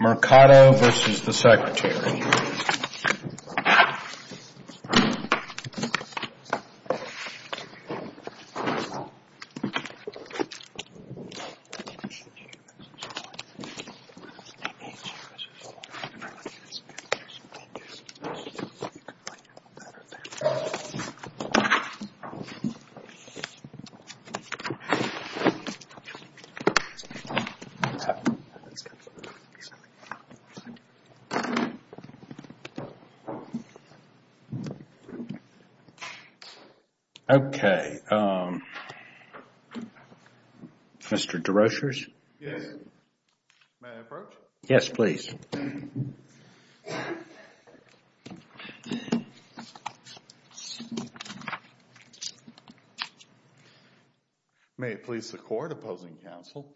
Mercado v. The Secretary Okay, um, Mr. DeRushers? Yes. May I approach? Yes, please. May it please the Court, Opposing Counsel.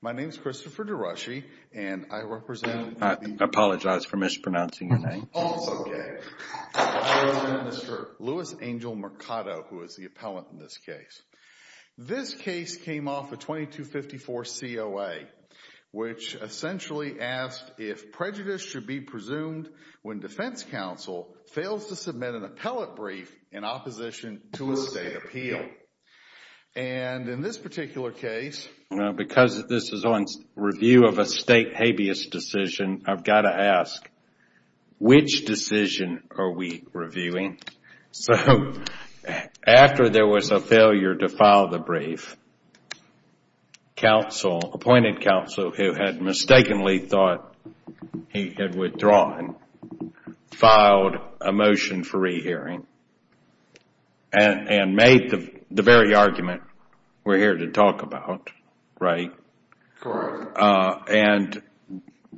My name is Christopher DeRushy, and I represent... I apologize for mispronouncing your name. Oh, it's okay. I represent Mr. Louis Angel Mercado, who is the appellant in this case. This case came off a 2254 COA, which essentially asked if prejudice should be presumed when defense counsel fails to submit an appellate brief in opposition to a state appeal. And in this particular case, because this is on review of a state habeas decision, I've got to ask, which decision are we reviewing? So, after there was a failure to file the brief, counsel, appointed counsel, who had mistakenly thought he had withdrawn, filed a motion for rehearing and made the very argument we're here to talk about, right? Correct. And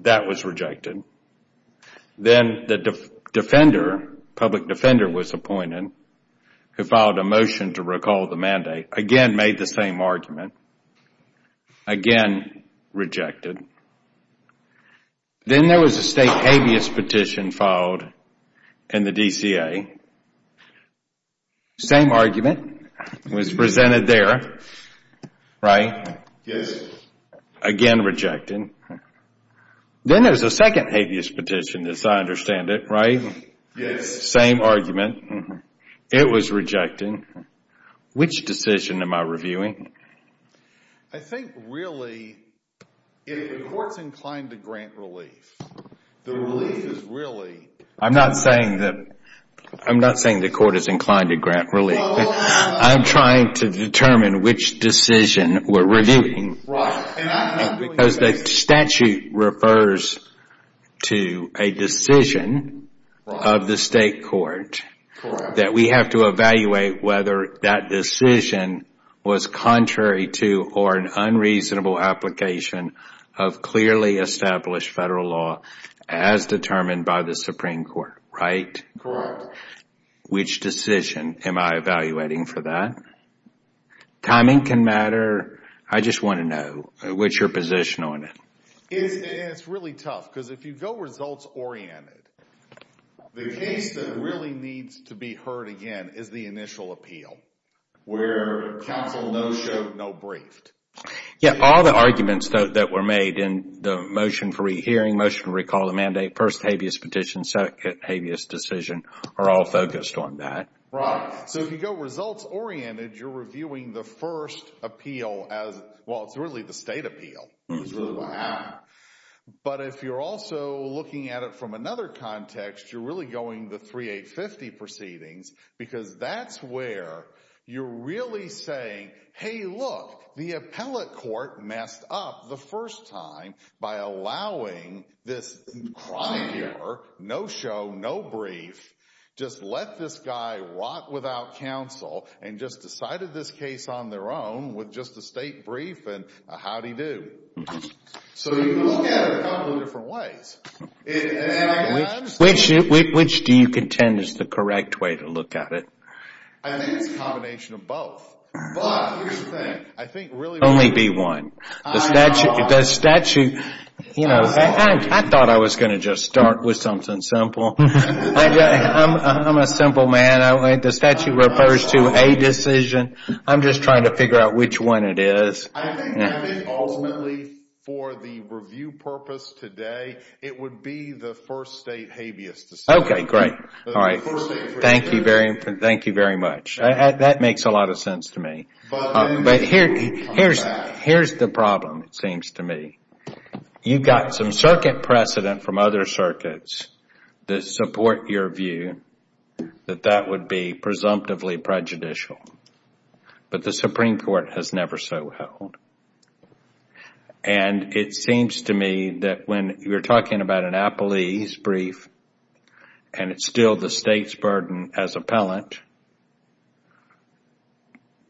that was rejected. Then the defender, public defender, was appointed, who filed a motion to recall the mandate, again made the same argument, again rejected. Then there was a state habeas petition filed in the DCA, same argument, was presented there, right? Yes. Again rejected. Then there was a second habeas petition, as I understand it, right? Yes. Same argument. It was rejected. Which decision am I reviewing? I think, really, if the court's inclined to grant relief, the relief is really... I'm not saying the court is inclined to grant relief. I'm trying to determine which decision we're reviewing. Because the statute refers to a decision of the state court that we have to evaluate whether that decision was contrary to or an unreasonable application of clearly established federal law as determined by the Supreme Court, right? Correct. Which decision am I evaluating for that? Timing can matter. I just want to know what's your position on it. It's really tough, because if you go results-oriented, the case that really needs to be heard again is the initial appeal, where counsel no-showed, no-briefed. Yes. All the arguments that were made in the motion for rehearing, motion to recall the mandate, first habeas petition, second habeas decision, are all focused on that. Right. So if you go results-oriented, you're reviewing the first appeal as... Well, it's really the state appeal. But if you're also looking at it from another context, you're really going the 3-8-50 proceedings, because that's where you're really saying, hey, look, the appellate court messed up the first time by allowing this crime here, no-show, no-brief, just let this guy rot without counsel and just decided this case on their own with just a state brief, and how'd he do? So you can look at it a couple of different ways. Which do you contend is the correct way to look at it? I think it's a combination of both. But here's the thing, I think really... Only be one. The statute, you know, I thought I was going to just start with something simple. I'm a simple man. The statute refers to a decision. I'm just trying to figure out which one it is. I think ultimately for the review purpose today, it would be the first state habeas decision. Okay, great. Thank you very much. That makes a lot of sense to me. But here's the problem, it seems to me. You've got some circuit precedent from other circuits that support your view that that would be presumptively prejudicial. But the Supreme Court has never so held. And it seems to me that when you're talking about an appellee's brief, and it's still the state's burden as appellant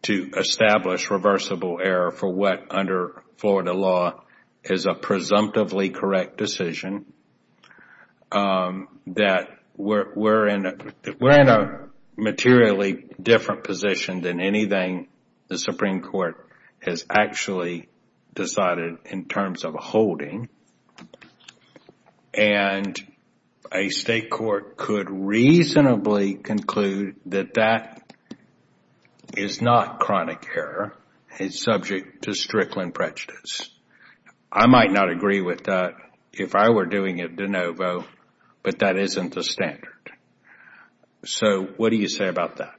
to establish reversible error for what under Florida law is a presumptively correct decision, that we're in a materially different position than anything the Supreme Court has actually decided in terms of holding. And a state court could reasonably conclude that that is not chronic error. It's subject to Strickland prejudice. I might not agree with that if I were doing it de novo, but that isn't the standard. So what do you say about that?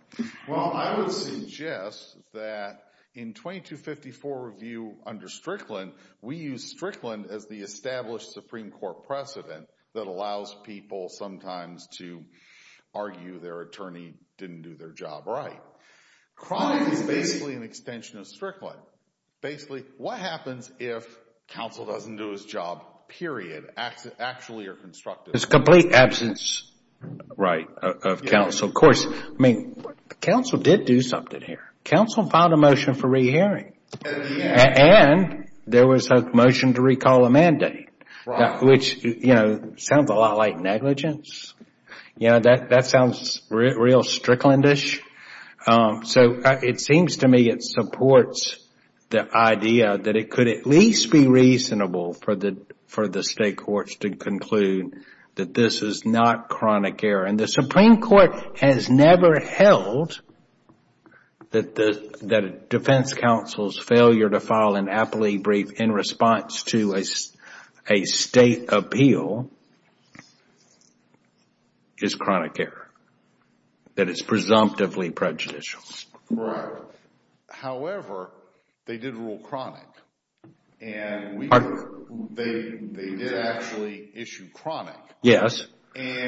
Well, I would suggest that in 2254 review under Strickland, we use Strickland as the established Supreme Court precedent that allows people sometimes to argue their attorney didn't do their job right. Chronic is basically an extension of Strickland. Basically, what happens if counsel doesn't do his job, period, actually or constructively? There's a complete absence of counsel. Of course, I mean, counsel did do something here. Counsel filed a motion for rehearing. And there was a motion to recall a mandate, which sounds a lot like negligence. That sounds real Stricklandish. So it seems to me it supports the idea that it could at least be reasonable for the state courts to conclude that this is not chronic error. And the Supreme Court has never held that a defense counsel's failure to file an aptly brief in response to a state appeal is chronic error. That it's presumptively prejudicial. Right. However, they did rule chronic. Pardon? They did actually issue chronic. Yes,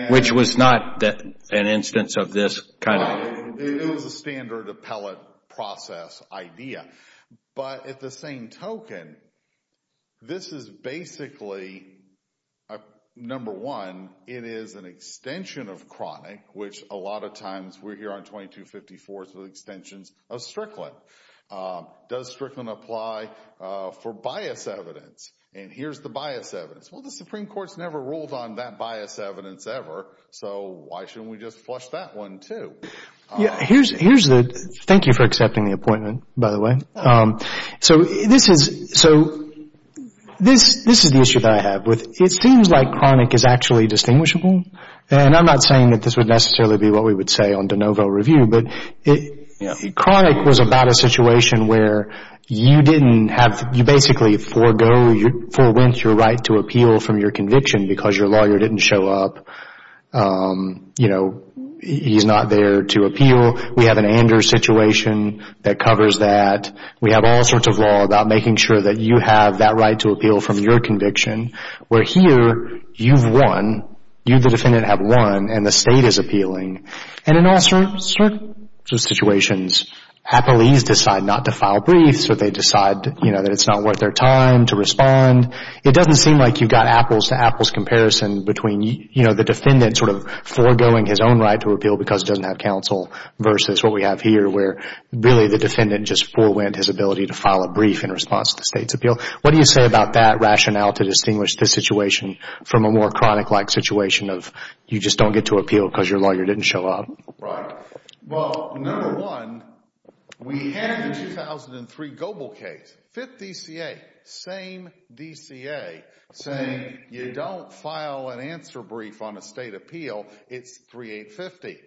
which was not an instance of this kind of. It was a standard appellate process idea. But at the same token, this is basically, number one, it is an extension of chronic, which a lot of times we're here on 2254, so extensions of Strickland. Does Strickland apply for bias evidence? And here's the bias evidence. Well, the Supreme Court's never ruled on that bias evidence ever, so why shouldn't we just flush that one, too? Thank you for accepting the appointment, by the way. So this is the issue that I have. It seems like chronic is actually distinguishable. And I'm not saying that this would necessarily be what we would say on de novo review. Chronic was about a situation where you basically forewent your right to appeal from your conviction because your lawyer didn't show up. He's not there to appeal. We have an Anders situation that covers that. We have all sorts of law about making sure that you have that right to appeal from your conviction. Where here, you've won. You, the defendant, have won, and the state is appealing. And in all sorts of situations, appellees decide not to file briefs or they decide, you know, that it's not worth their time to respond. It doesn't seem like you've got apples to apples comparison between, you know, the defendant sort of foregoing his own right to appeal because he doesn't have counsel versus what we have here, where really the defendant just forewent his ability to file a brief in response to the state's appeal. What do you say about that rationale to distinguish this situation from a more chronic-like situation of you just don't get to appeal because your lawyer didn't show up? Right. Well, number one, we have the 2003 Goebel case. Fifth DCA. Same DCA. Same. You don't file an answer brief on a state appeal. It's 3850.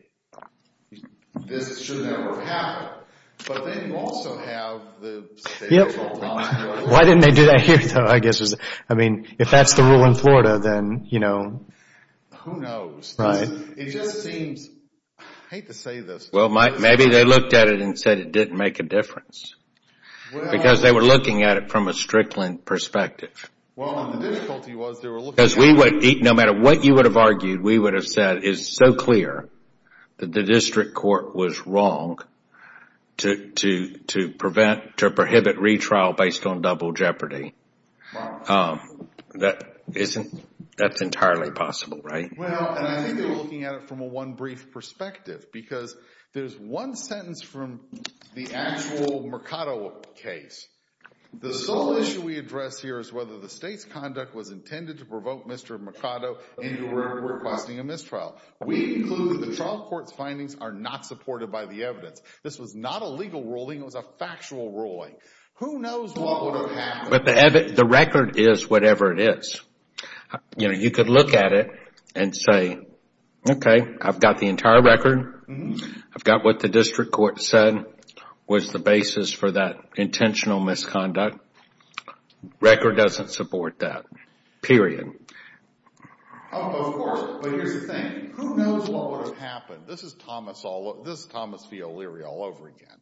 This should never have happened. But then you also have the State Attorney's Office. Why didn't they do that here, though, I guess? I mean, if that's the rule in Florida, then, you know. Who knows? Right. It just seems. I hate to say this. Well, maybe they looked at it and said it didn't make a difference. Because they were looking at it from a Strickland perspective. Well, the difficulty was they were looking at it. Because we would, no matter what you would have argued, we would have said, it's so clear that the district court was wrong to prevent, to prohibit retrial based on double jeopardy. That isn't, that's entirely possible, right? Well, and I think they were looking at it from a one brief perspective. Because there's one sentence from the actual Mercado case. The sole issue we address here is whether the state's conduct was intended to provoke Mr. Mercado into requesting a mistrial. We conclude that the trial court's findings are not supported by the evidence. This was not a legal ruling. It was a factual ruling. Who knows what would have happened. But the record is whatever it is. You know, you could look at it and say, okay, I've got the entire record. I've got what the district court said was the basis for that intentional misconduct. Record doesn't support that. Period. Oh, of course. But here's the thing. Who knows what would have happened. This is Thomas, this is Thomas V. O'Leary all over again.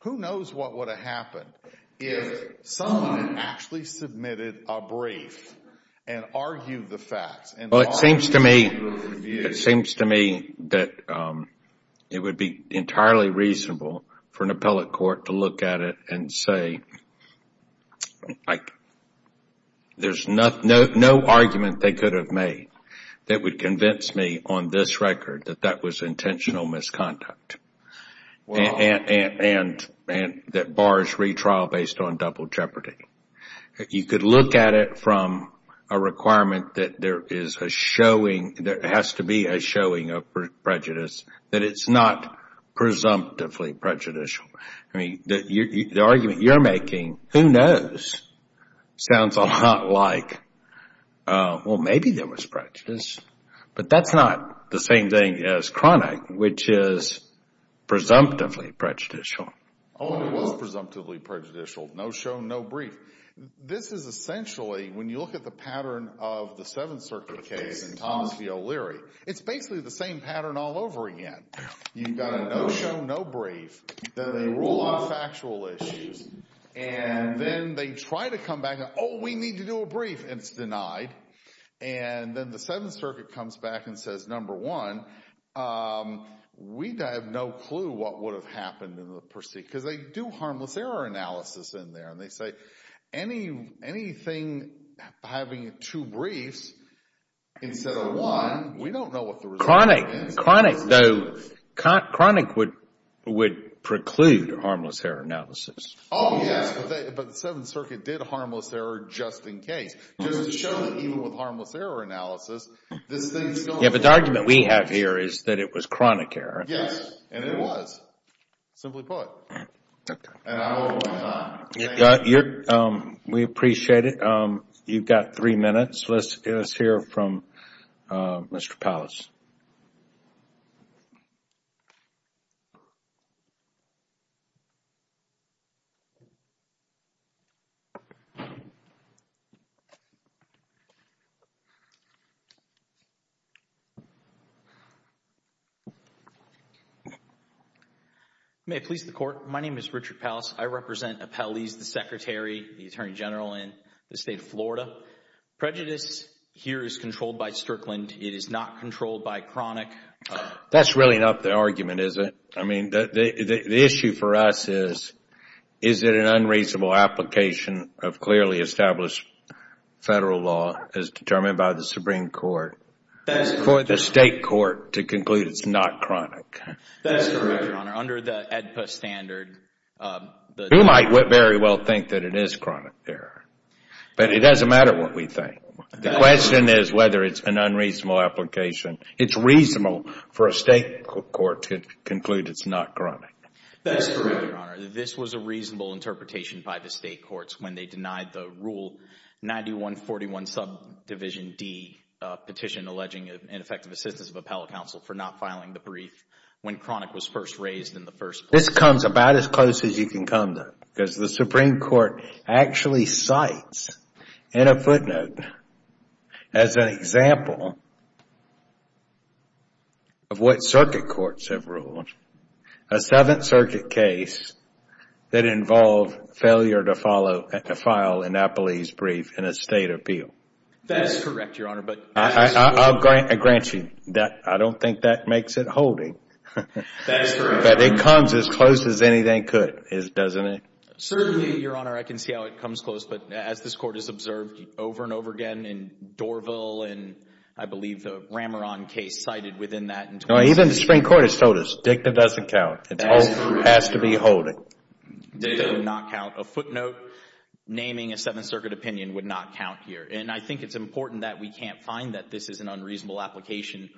Who knows what would have happened if someone had actually submitted a brief and argued the facts. Well, it seems to me, it seems to me that it would be entirely reasonable for an appellate court to look at it and say, like, there's no argument they could have made that would convince me on this record that that was intentional misconduct. And that bars retrial based on double jeopardy. You could look at it from a requirement that there is a showing, there has to be a showing of prejudice, that it's not presumptively prejudicial. I mean, the argument you're making, who knows, sounds a lot like, well, maybe there was prejudice. But that's not the same thing as chronic, which is presumptively prejudicial. Oh, it was presumptively prejudicial. No show, no brief. This is essentially, when you look at the pattern of the Seventh Circuit case and Thomas V. O'Leary, it's basically the same pattern all over again. You've got a no show, no brief. Then they rule on factual issues. And then they try to come back and, oh, we need to do a brief, and it's denied. And then the Seventh Circuit comes back and says, number one, we have no clue what would have happened. Because they do harmless error analysis in there. And they say anything having two briefs instead of one, we don't know what the result is. Chronic, though, chronic would preclude harmless error analysis. Oh, yes. But the Seventh Circuit did harmless error just in case. Just to show that even with harmless error analysis, this thing is going to happen. Yes, but the argument we have here is that it was chronic error. Yes, and it was. Simply put. And I hope I'm not. We appreciate it. You've got three minutes. Let's hear from Mr. Pallas. May it please the Court. My name is Richard Pallas. I represent Appellees, the Secretary, the Attorney General in the State of Florida. Prejudice here is controlled by Strickland. It is not controlled by chronic. That's really not the argument, is it? I mean, the issue for us is, is it an unreasonable application of clearly established federal law as determined by the Supreme Court? That's correct. For the State Court to conclude it's not chronic. That's correct, Your Honor. Under the AEDPA standard. We might very well think that it is chronic error. But it doesn't matter what we think. The question is whether it's an unreasonable application. It's reasonable for a State court to conclude it's not chronic. That's correct, Your Honor. This was a reasonable interpretation by the State courts when they denied the rule 9141 subdivision D petition alleging ineffective assistance of appellate counsel for not filing the brief when chronic was first raised in the first place. This comes about as close as you can come to. Because the Supreme Court actually cites in a footnote as an example of what circuit courts have ruled. A Seventh Circuit case that involved failure to file an appellee's brief in a State appeal. That is correct, Your Honor. I'll grant you that. I don't think that makes it holding. That is correct. But it comes as close as anything could, doesn't it? Certainly, Your Honor, I can see how it comes close. But as this Court has observed over and over again in Dorville and I believe the Rameron case cited within that. Even the Supreme Court has told us DICTA doesn't count. It has to be holding. DICTA does not count. A footnote naming a Seventh Circuit opinion would not count here. And I think it's important that we can't find that this is an unreasonable application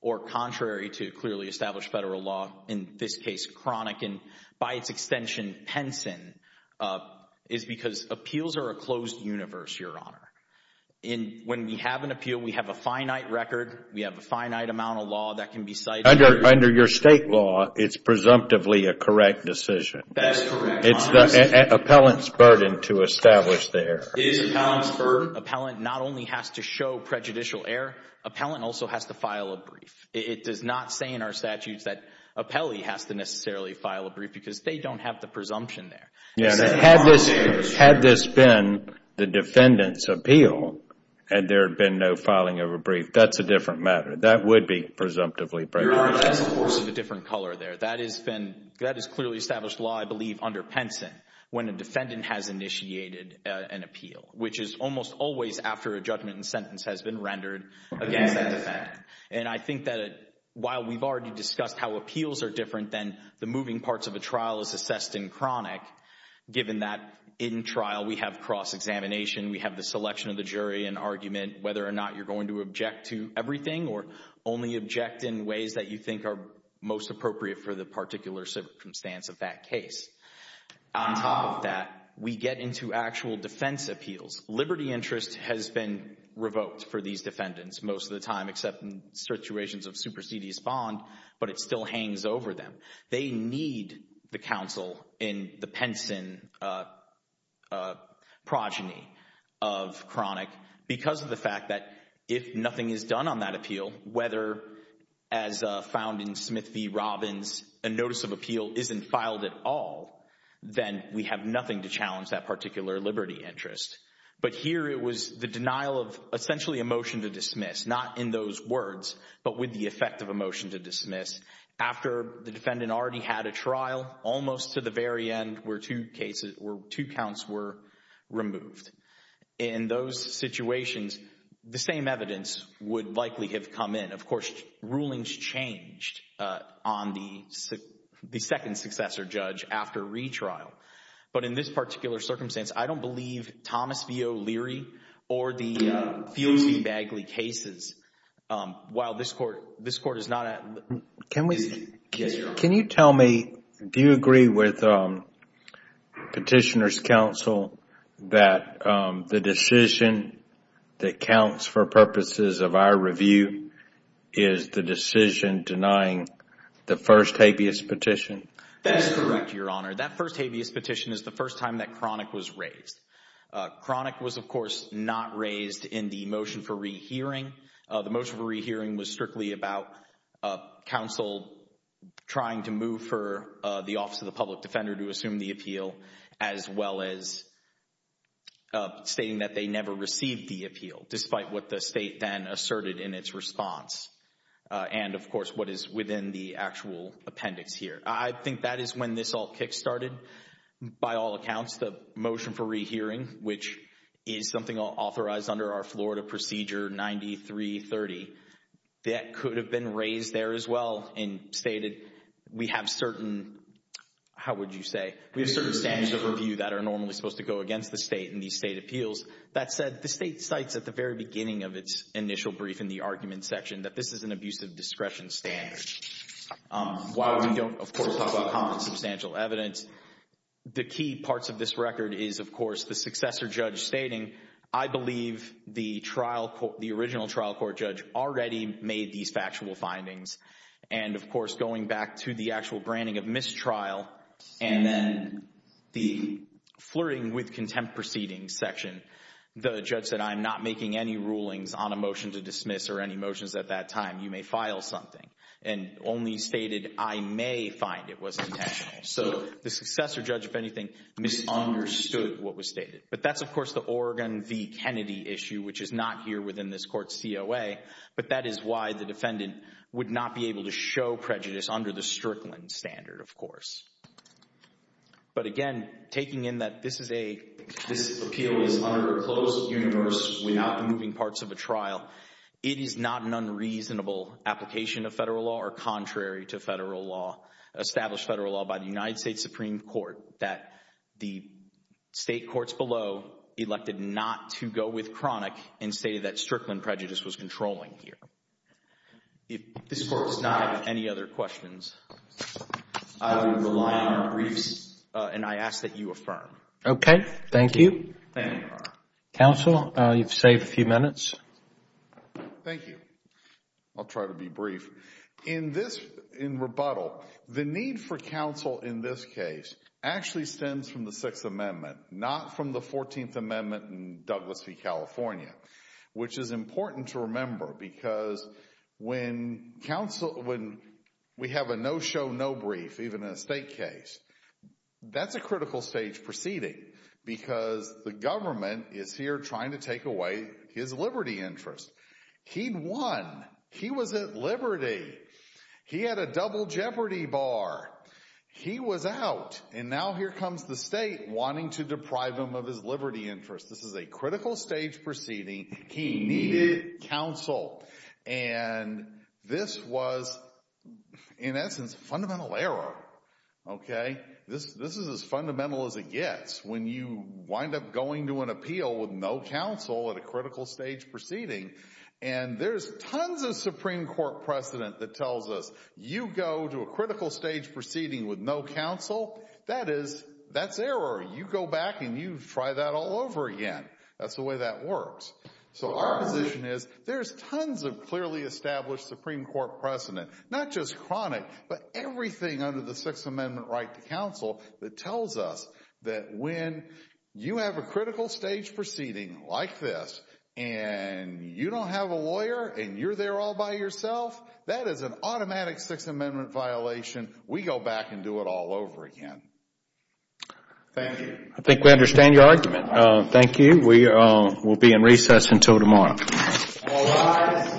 or contrary to clearly established Federal law, in this case chronic and by its extension pension is because appeals are a closed universe, Your Honor. When we have an appeal, we have a finite record. We have a finite amount of law that can be cited. Under your State law, it's presumptively a correct decision. That's correct, Your Honor. It's the appellant's burden to establish the error. It is the appellant's burden. Appellant not only has to show prejudicial error, appellant also has to file a brief. It does not say in our statutes that appellee has to necessarily file a brief because they don't have the presumption there. Had this been the defendant's appeal and there had been no filing of a brief, that's a different matter. That would be presumptively prejudicial. Your Honor, that's a course of a different color there. That is clearly established law, I believe, under Penson when a defendant has initiated an appeal, which is almost always after a judgment and sentence has been rendered against that defendant. And I think that while we've already discussed how appeals are different than the moving parts of a trial as assessed in chronic, given that in trial we have cross-examination, we have the selection of the jury and argument, whether or not you're going to object to everything or only object in ways that you think are most appropriate for the particular circumstance of that case. On top of that, we get into actual defense appeals. Liberty interest has been revoked for these defendants most of the time except in situations of supersedious bond, but it still hangs over them. They need the counsel in the Penson progeny of chronic because of the fact that if nothing is done on that appeal, whether as found in Smith v. Robbins, a notice of appeal isn't filed at all, then we have nothing to challenge that particular liberty interest. But here it was the denial of essentially a motion to dismiss, not in those words, but with the effect of a motion to dismiss, after the defendant already had a trial almost to the very end where two counts were removed. In those situations, the same evidence would likely have come in. Of course, rulings changed on the second successor judge after retrial. But in this particular circumstance, I don't believe Thomas v. O'Leary or the Fields v. Bagley cases, while this court is not at... Is the decision denying the first habeas petition? That is correct, Your Honor. That first habeas petition is the first time that chronic was raised. Chronic was, of course, not raised in the motion for rehearing. The motion for rehearing was strictly about counsel trying to move for the Office of the Public Defender to assume the appeal, as well as stating that they never received the appeal, despite what the state then asserted in its response. And, of course, what is within the actual appendix here. I think that is when this all kick-started. By all accounts, the motion for rehearing, which is something authorized under our Florida Procedure 9330, that could have been raised there as well and stated, we have certain... how would you say? We have certain standards of review that are normally supposed to go against the state in these state appeals. That said, the state cites at the very beginning of its initial brief in the argument section that this is an abusive discretion standard. While we don't, of course, talk about common substantial evidence, the key parts of this record is, of course, the successor judge stating, I believe the original trial court judge already made these factual findings. And, of course, going back to the actual branding of mistrial and then the flirting with contempt proceedings section, the judge said, I am not making any rulings on a motion to dismiss or any motions at that time. You may file something. And only stated, I may find it was intentional. So, the successor judge, if anything, misunderstood what was stated. But that's, of course, the Oregon v. Kennedy issue, which is not here within this court's COA. But that is why the defendant would not be able to show prejudice under the Strickland standard, of course. But, again, taking in that this is a... this appeal is under a closed universe without moving parts of a trial, it is not an unreasonable application of federal law or contrary to federal law, established federal law by the United States Supreme Court, that the State courts below elected not to go with Cronick and stated that Strickland prejudice was controlling here. If this Court does not have any other questions, I will rely on briefs and I ask that you affirm. Okay. Thank you. Thank you, Your Honor. Counsel, you've saved a few minutes. Thank you. I'll try to be brief. In rebuttal, the need for counsel in this case actually stems from the Sixth Amendment, not from the Fourteenth Amendment in Douglas v. California, which is important to remember because when we have a no-show, no-brief, even in a state case, that's a critical stage proceeding because the government is here trying to take away his liberty interest. He'd won. He was at liberty. He had a double jeopardy bar. He was out. And now here comes the state wanting to deprive him of his liberty interest. This is a critical stage proceeding. He needed counsel. And this was, in essence, a fundamental error. Okay? This is as fundamental as it gets when you wind up going to an appeal with no counsel at a critical stage proceeding. And there's tons of Supreme Court precedent that tells us, you go to a critical stage proceeding with no counsel, that is, that's error. You go back and you try that all over again. That's the way that works. So our position is, there's tons of clearly established Supreme Court precedent, not just chronic, but everything under the Sixth Amendment right to counsel that tells us that when you have a critical stage proceeding like this and you don't have a lawyer and you're there all by yourself, that is an automatic Sixth Amendment violation. We go back and do it all over again. Thank you. I think we understand your argument. Thank you. We will be in recess until tomorrow. All rise.